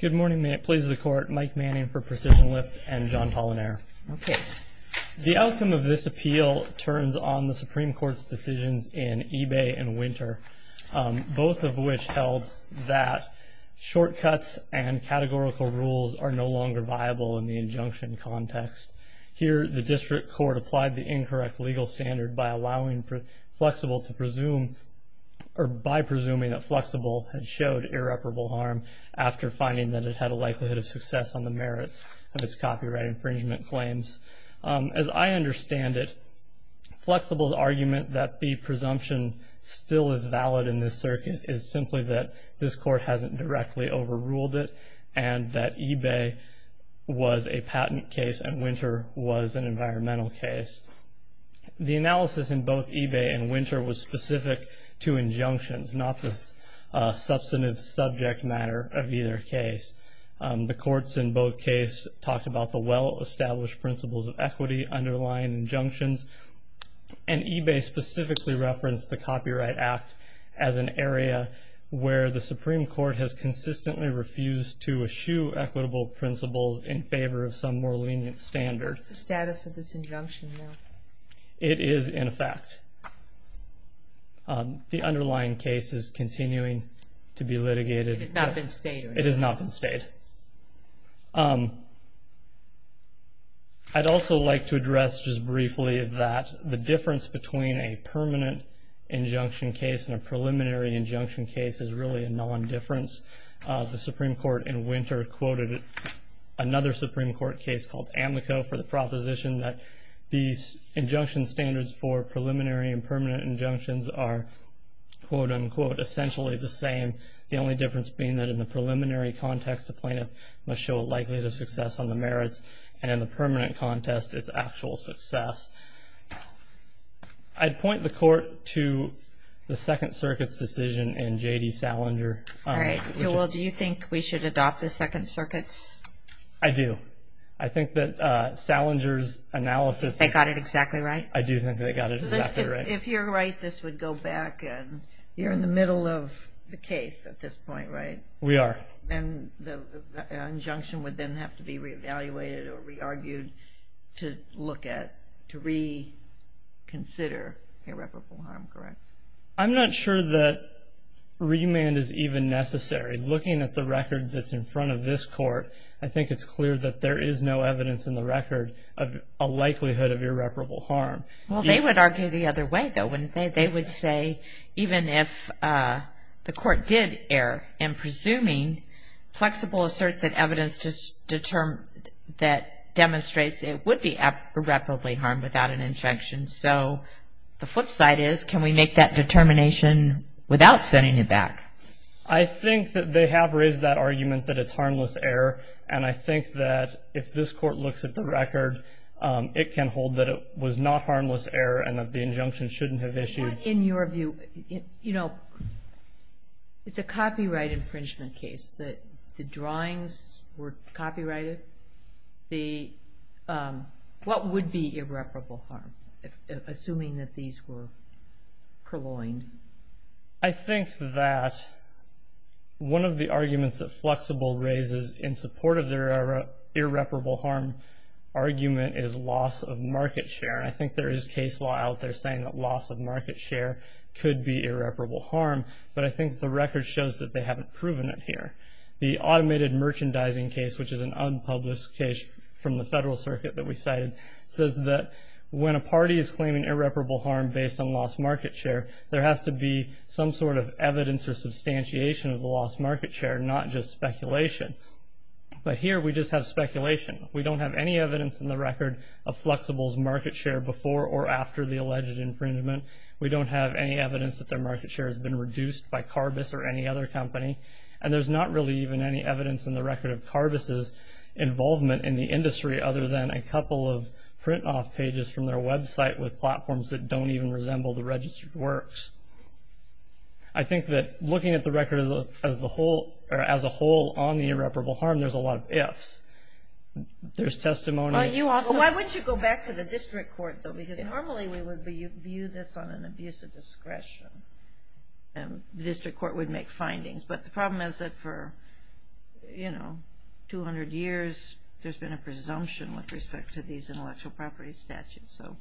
Good morning, please, the Court. Mike Manning for Precision Lift and John Pollinare. Okay. The outcome of this appeal turns on the Supreme Court's decisions in Ebay and Winter, both of which held that shortcuts and categorical rules are no longer viable in the injunction context. Here, the District Court applied the incorrect legal standard by allowing Flexible to presume, or by presuming that Flexible had showed irreparable harm after finding that it had a likelihood of success on the merits of its copyright infringement claims. As I understand it, Flexible's argument that the presumption still is valid in this circuit is simply that this Court hasn't directly overruled it and that Ebay was a patent case and Winter was an environmental case. The analysis in both Ebay and Winter was specific to injunctions, not the substantive subject matter of either case. The courts in both cases talked about the well-established principles of equity, underlying injunctions, and Ebay specifically referenced the Copyright Act as an area where the Supreme Court has consistently refused to eschew equitable principles in favor of some more lenient standard. What's the status of this injunction now? It is, in effect. The underlying case is continuing to be litigated. It has not been stayed? It has not been stayed. I'd also like to address just briefly that the difference between a permanent injunction case and a preliminary injunction case is really a non-difference. The Supreme Court in Winter quoted another Supreme Court case called Amico for the proposition that these injunction standards for preliminary and permanent injunctions are quote, unquote, essentially the same. The only difference being that in the preliminary context, the plaintiff must show a likelihood of success on the merits, and in the permanent contest, it's actual success. I'd point the Court to the Second Circuit's decision in J.D. Salinger. All right, Joel, do you think we should adopt the Second Circuit's? I do. I think that Salinger's analysis... They got it exactly right? I do think they got it exactly right. If you're right, this would go back and you're in the middle of the case at this point, right? We are. An injunction would then have to be re-evaluated or re-argued to look at, to reconsider irreparable harm, correct? I'm not sure that remand is even necessary. Looking at the record that's in front of this Court, I think it's clear that there is no evidence in the record of a likelihood of irreparable harm. Well, they would argue the other way, though. They would say, even if the Court did err in presuming flexible asserts and evidence that demonstrates it would be irreparably harmed without an injunction, so the flip side is, can we make that determination without sending it back? I think that they have raised that argument that it's harmless error, and I think that if this Court looks at the record, it can hold that it was not harmless error and that the injunction shouldn't have issued. In your view, you know, it's a copyright infringement case. The drawings were copyrighted. What would be irreparable harm, assuming that these were purloined? I think that one of the arguments that Flexible raises in support of their irreparable harm argument is loss of market share. I think there is case law out there saying that loss of market share could be irreparable harm, but I think the record shows that they haven't proven it here. The automated merchandising case, which is an unpublished case from the Federal Circuit that we cited, says that when a party is claiming irreparable harm based on lost market share, there has to be some sort of evidence or substantiation of the lost market share, not just speculation. But here, we just have speculation. We don't have any evidence in the record of Flexible's market share before or after the alleged infringement. We don't have any evidence that their market share has been reduced by Carbis or any other company, and there's not really even any evidence in the record of Carbis's involvement in the industry other than a couple of print-off pages from their website with platforms that don't even resemble the registered works. I think that looking at the record as a whole on the irreparable harm, there's a lot of ifs. There's testimony. Why wouldn't you go back to the district court, though? Because normally, we would view this on an abuse of discretion, and the district court would make findings. But the problem is that for, you know, 200 years, there's been a presumption with respect to these intellectual property statutes. So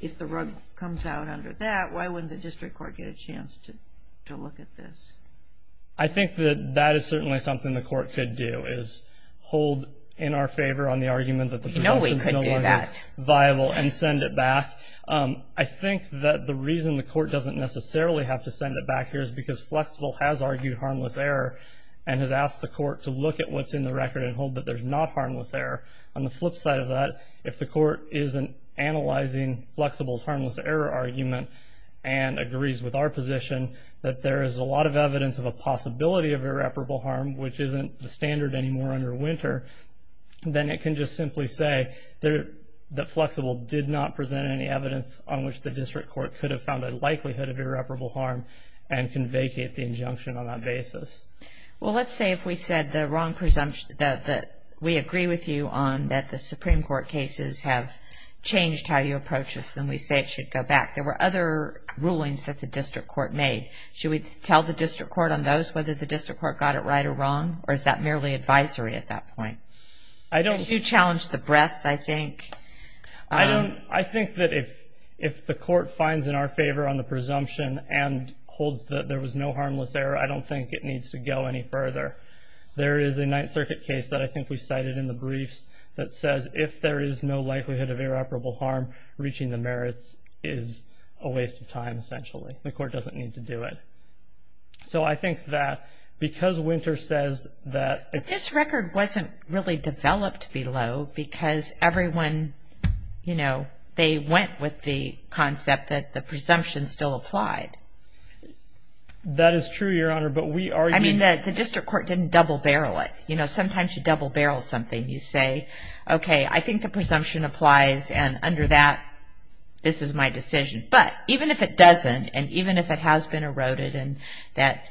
if the rug comes out under that, why wouldn't the district court get a chance to look at this? I think that that is certainly something the court could do is hold in our favor on the argument that the presumption's no longer viable and send it back. I think that the reason the court doesn't necessarily have to send it back here is because Flexible has argued harmless error and has asked the court to look at what's in the record and hold that there's not harmless error. On the flip side of that, if the court isn't analyzing Flexible's and agrees with our position that there is a lot of evidence of a possibility of irreparable harm, which isn't the standard anymore under Winter, then it can just simply say that Flexible did not present any evidence on which the district court could have found a likelihood of irreparable harm and can vacate the injunction on that basis. Well, let's say if we said the wrong presumption, that we agree with you on that the Supreme Court cases have changed how you approach this, then we say it should go back. There were other rulings that the district court made. Should we tell the district court on those whether the district court got it right or wrong, or is that merely advisory at that point? You challenged the breadth, I think. I think that if the court finds in our favor on the presumption and holds that there was no harmless error, I don't think it needs to go any further. There is a Ninth Circuit case that I think we cited in the briefs that says if there is no likelihood of irreparable harm, reaching the merits is a waste of time, essentially. The court doesn't need to do it. So I think that because Winter says that... But this record wasn't really developed below because everyone, you know, they went with the concept that the presumption still applied. That is true, Your Honor, but we already... I mean, the district court didn't double-barrel it. You know, sometimes you double-barrel something. You say, okay, I think the presumption applies, and under that, this is my decision. But even if it doesn't, and even if it has been eroded, and that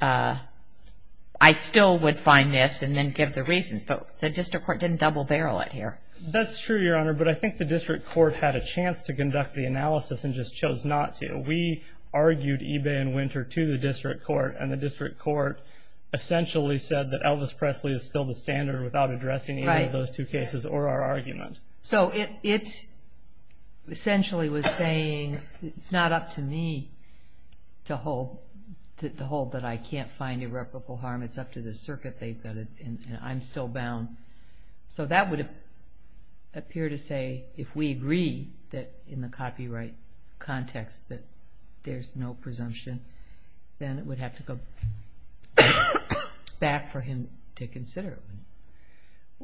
I still would find this and then give the reasons, but the district court didn't double-barrel it here. That's true, Your Honor, but I think the district court had a chance to conduct the analysis and just chose not to. We argued Ibe and Winter to the district court, and the district court essentially said that Elvis Presley is still the standard without addressing either of those two cases or our argument. So it essentially was saying it's not up to me to hold, to hold that I can't find irreparable harm. It's up to the circuit they've got it, and I'm still bound. So that would appear to say, if we agree that in the copyright context that there's no presumption, then it would have to go back for him to consider it.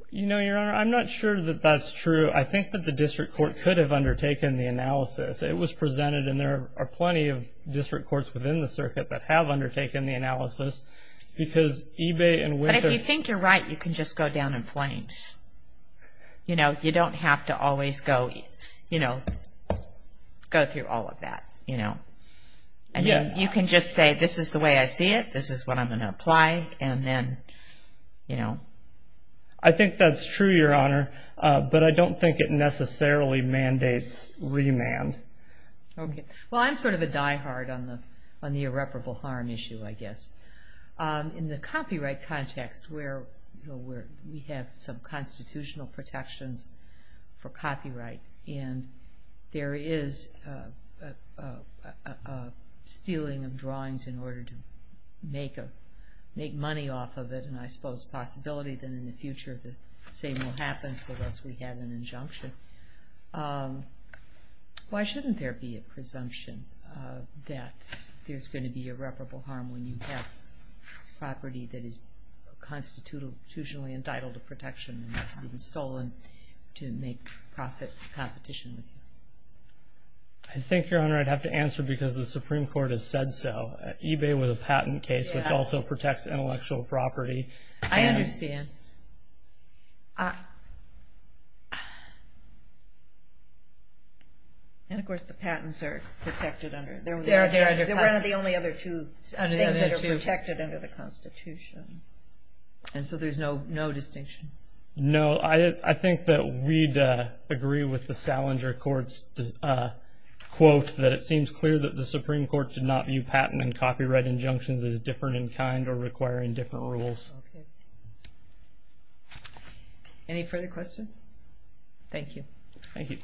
You know, Your Honor, I'm not sure that that's true. I think that the district court could have undertaken the analysis. It was presented, and there are plenty of district courts within the circuit that have undertaken the analysis because Ibe and Winter... But if you think you're right, you can just go down in flames. You know, you don't have to always go, you know, go through all of that, you know. I mean, you can just say, this is the way I see it, this is what I'm going to apply, and then, you know. I think that's true, Your Honor, but I don't think it necessarily mandates remand. Okay, well, I'm sort of a diehard on the irreparable harm issue, I guess. In the copyright context, where we have some constitutional protections for copyright, and there is a stealing of drawings in order to make money off of it, and I suppose the possibility that in the future, the same will happen, so thus, we have an injunction. Why shouldn't there be a presumption that there's going to be irreparable harm when you have property that is constitutionally entitled to protection and has been stolen to make profit competition? I think, Your Honor, I'd have to answer because the Supreme Court has said so. eBay was a patent case, which also protects intellectual property. I understand. And, of course, the patents are protected under... They're one of the only other two things that are protected under the Constitution, and so there's no distinction. No, I think that we'd agree with the Salinger Court's quote that it seems clear that the Supreme Court did not view patent and copyright injunctions as different in kind or requiring different rules. Okay. Any further questions? Thank you. Thank you.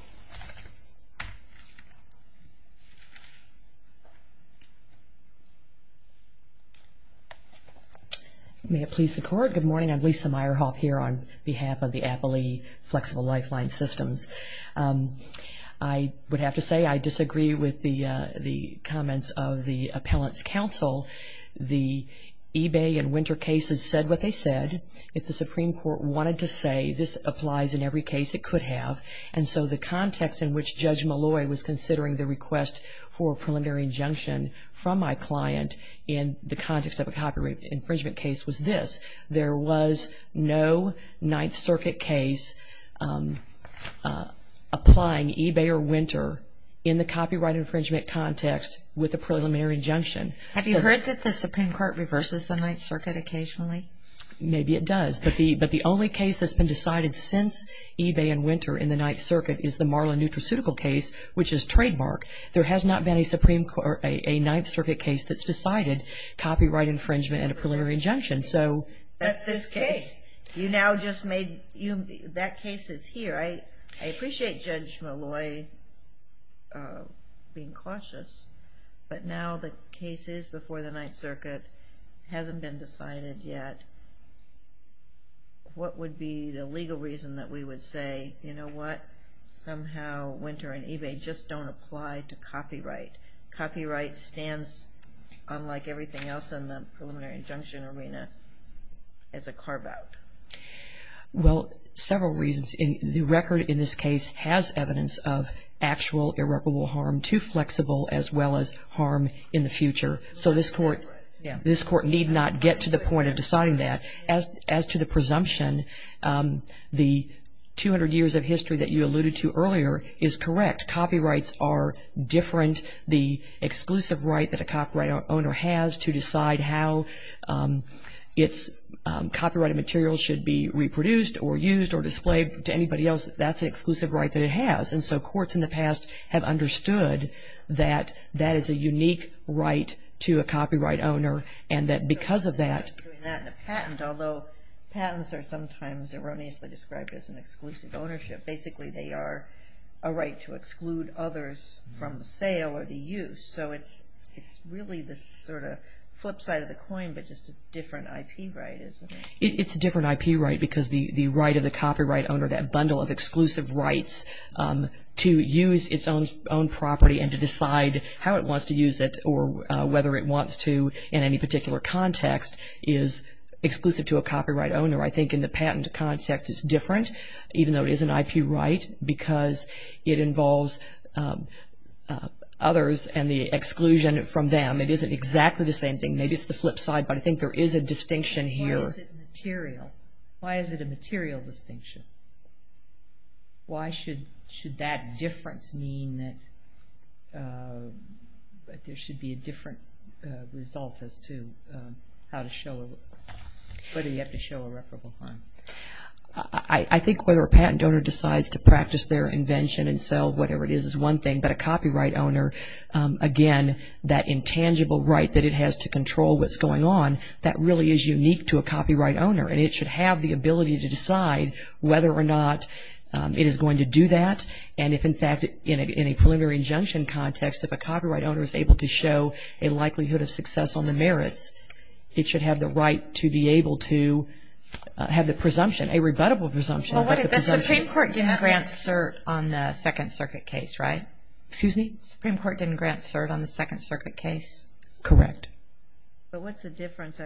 May it please the Court, good morning. I'm Lisa Meyerhoff here on behalf of the Appley Flexible Lifeline Systems. I would have to say I disagree with the comments of the Appellant's Counsel. The eBay and Winter cases said what they said. If the Supreme Court wanted to say this applies in every case, it could have. And so the context in which Judge Malloy was considering the request for a preliminary injunction from my client in the context of a copyright infringement case was this. There was no Ninth Circuit case applying eBay or Winter in the copyright infringement context with a preliminary injunction. Have you heard that the Supreme Court reverses the Ninth Circuit occasionally? Maybe it does, but the only case that's been decided since eBay and Winter in the Ninth Circuit is the Marlin Nutraceutical case, which is trademark. There has not been a Ninth Circuit case that's decided copyright infringement and a preliminary injunction, so. That's this case. You now just made, that case is here. I appreciate Judge Malloy being cautious, but now the case is before the Ninth Circuit, hasn't been decided yet. What would be the legal reason that we would say, you know what, somehow Winter and eBay just don't apply to copyright? Copyright stands, unlike everything else in the preliminary injunction arena, as a carve out. Well, several reasons. The record in this case has evidence of actual irreparable harm to flexible as well as harm in the future. So this court need not get to the point of deciding that. As to the presumption, the 200 years of history that you alluded to earlier is correct. Copyrights are different. The exclusive right that a copyright owner has to decide how its copyrighted material should be reproduced or used or displayed to anybody else, that's an exclusive right that it has. And so courts in the past have understood that that is a unique right to a copyright owner and that because of that. And a patent, although patents are sometimes erroneously described as an exclusive ownership. Basically, they are a right to exclude others from the sale or the use. So it's really this sort of flip side of the coin, but just a different IP right, isn't it? It's a different IP right because the right of the copyright owner, that bundle of exclusive rights, to use its own property and to decide how it wants to use it or whether it wants to in any particular context is exclusive to a copyright owner. I think in the patent context it's different, even though it is an IP right because it involves others and the exclusion from them. It isn't exactly the same thing. Maybe it's the flip side, but I think there is a distinction here. Why is it material? Why is it a material distinction? Why should that difference mean that there should be a different result as to how to show, whether you have to show irreparable harm? I think whether a patent owner decides to practice their invention and sell whatever it is, is one thing, but a copyright owner, again, that intangible right that it has to control what's going on, that really is unique to a copyright owner. And it should have the ability to decide whether or not it is going to do that. And if, in fact, in a preliminary injunction context, if a copyright owner is able to show a likelihood of success on the merits, it should have the right to be able to have the presumption, a rebuttable presumption. Well, what if the Supreme Court didn't grant cert on the Second Circuit case, right? Excuse me? Supreme Court didn't grant cert on the Second Circuit case? Correct. But what's the difference?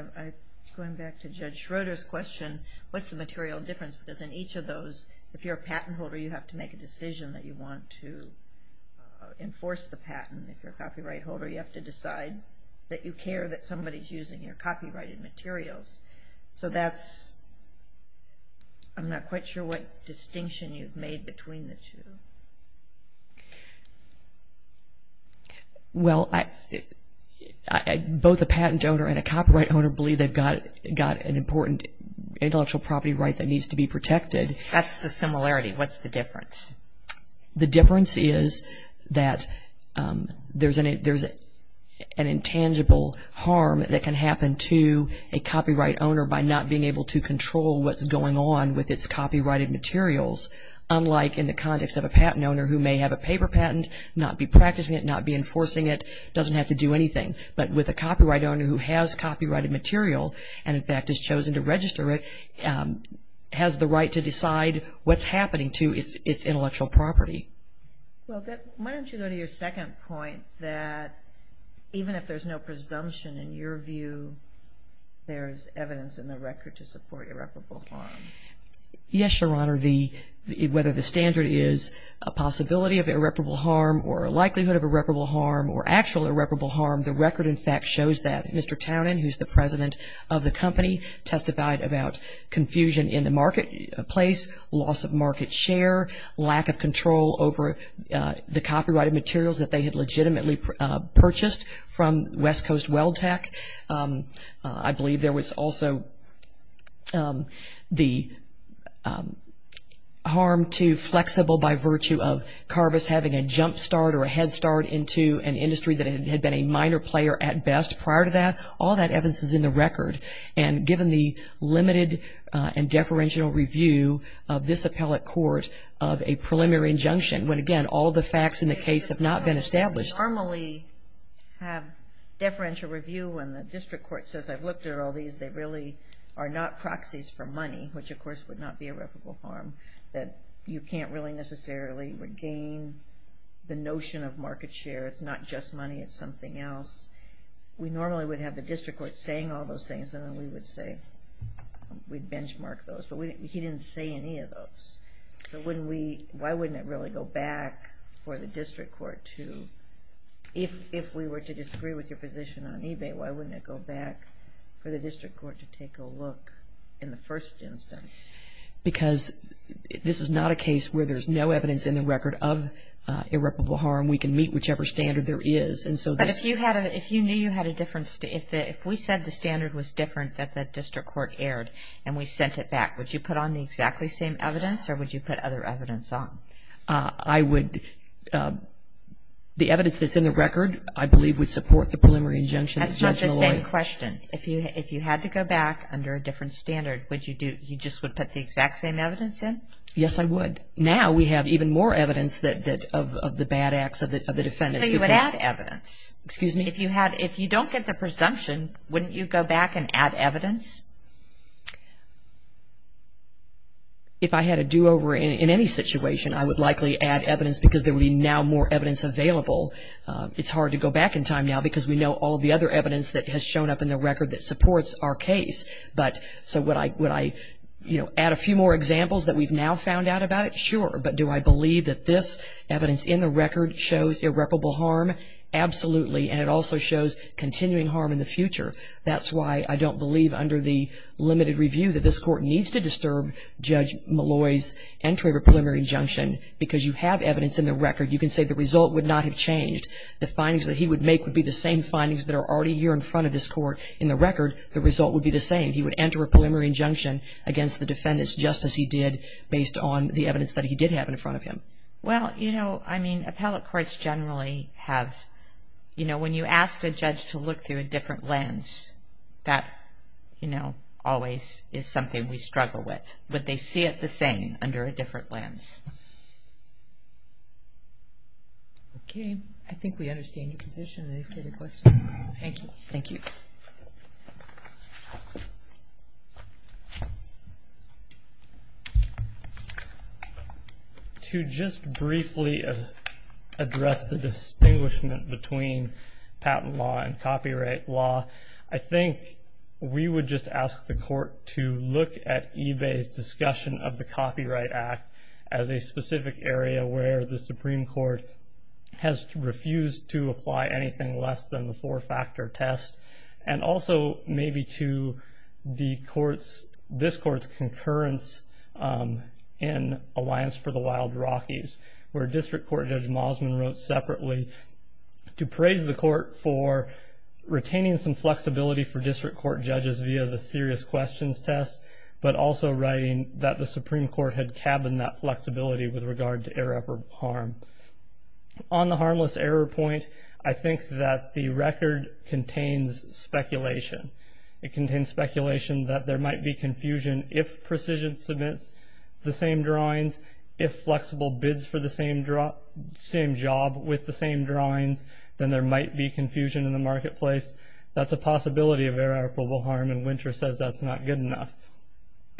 Going back to Judge Schroeder's question, what's the material difference? Because in each of those, if you're a patent holder, you have to make a decision that you want to enforce the patent. If you're a copyright holder, you have to decide that you care that somebody is using your copyrighted materials. So that's, I'm not quite sure what distinction you've made between the two. Well, both a patent owner and a copyright owner believe they've got an important intellectual property right that needs to be That's the similarity. What's the difference? The difference is that there's an intangible harm that can happen to a copyright owner by not being able to control what's going on with its copyrighted materials. Unlike in the context of a patent owner who may have a paper patent, not be practicing it, not be enforcing it, doesn't have to do anything. But with a copyright owner who has copyrighted material and, in fact, has chosen to register it, has the right to decide what's happening to its intellectual property. Well, why don't you go to your second point that even if there's no presumption in your view, there's evidence in the record to support irreparable harm? Yes, Your Honor. The, whether the standard is a possibility of irreparable harm or a likelihood of irreparable harm or actual irreparable harm, the record, in fact, shows that. Mr. Townend, who's the president of the company, testified about confusion in the marketplace, loss of market share, lack of control over the copyrighted materials that they had legitimately purchased from West Coast Well Tech. I believe there was also the harm to flexible by virtue of Carvis having a jump start or a head start into an industry that had been a minor player at best prior to that. All that evidence is in the record. And given the limited and deferential review of this appellate court of a preliminary injunction, when, again, all the facts in the case have not been established. We normally have deferential review when the district court says, I've looked at all these. They really are not proxies for money, which, of course, would not be irreparable harm, that you can't really necessarily regain the notion of market share. It's not just money. It's something else. We normally would have the district court saying all those things, and then we would say we'd benchmark those. But he didn't say any of those. So why wouldn't it really go back for the district court to if we were to disagree with your position on eBay, why wouldn't it go back for the district court to take a look in the first instance? Because this is not a case where there's no evidence in the record of irreparable harm. We can meet whichever standard there is. But if you knew you had a different, if we said the evidence was different that the district court aired and we sent it back, would you put on the exactly same evidence or would you put other evidence on? I would. The evidence that's in the record, I believe, would support the preliminary injunction. That's not the same question. If you had to go back under a different standard, would you do, you just would put the exact same evidence in? Yes, I would. Now we have even more evidence that of the bad acts of the defendants. So you would add evidence. Excuse me? If you had, if you don't get the presumption, wouldn't you go back and add evidence? If I had a do-over in any situation, I would likely add evidence because there would be now more evidence available. It's hard to go back in time now because we know all the other evidence that has shown up in the record that supports our case. But so would I, would I, you know, add a few more examples that we've now found out about it? Sure. But do I believe that this evidence in the record shows irreparable harm? Absolutely. And it also shows continuing harm in the future. That's why I don't believe under the limited review that this court needs to disturb Judge Malloy's entry of a preliminary injunction because you have evidence in the record. You can say the result would not have changed. The findings that he would make would be the same findings that are already here in front of this court. In the record, the result would be the same. He would enter a preliminary injunction against the defendants just as he did based on the evidence that he did have in front of him. Well, you know, I mean, appellate courts generally have, you know, when you ask a judge to look through a different lens, that, you know, always is something we struggle with, but they see it the same under a different lens. Okay. I think we understand your position. Any further questions? Thank you. Thank you. To just briefly address the distinguishment between patent law and copyright law, I think we would just ask the court to look at eBay's discussion of the Copyright Act as a specific area where the Supreme Court has refused to apply anything less than the four-factor test, and also maybe to the court's, this court's concurrence in Alliance for the Wild Rockies, where District Court Judge Mosman wrote separately to praise the retaining some flexibility for District Court judges via the serious questions test, but also writing that the Supreme Court had cabined that flexibility with regard to irreparable harm. On the harmless error point, I think that the record contains speculation. It contains speculation that there might be confusion if precision submits the same drawings, if flexible bids for the same job with the same drawings, then there might be confusion in the marketplace. That's a possibility of irreparable harm, and Winter says that's not good enough.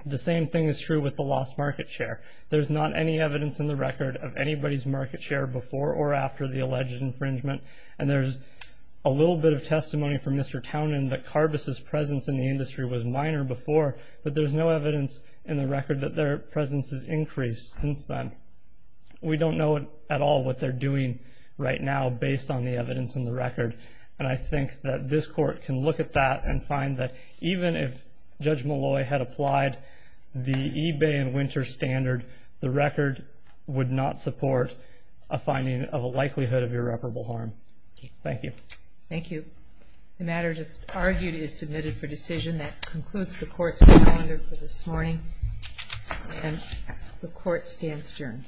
The same thing is true with the lost market share. There's not any evidence in the record of anybody's market share before or after the alleged infringement, and there's a little bit of testimony from Mr. Townend that Carbis' presence in the industry was minor before, but there's no evidence in the record that their presence has increased since then. We don't know at all what they're doing right now based on the evidence in the record. And I think that this Court can look at that and find that even if Judge Malloy had applied the eBay and Winter standard, the record would not support a finding of a likelihood of irreparable harm. Thank you. Thank you. The matter just argued is submitted for decision. That concludes the Court's calendar for this morning, and the Court stands adjourned. The Court is adjourned.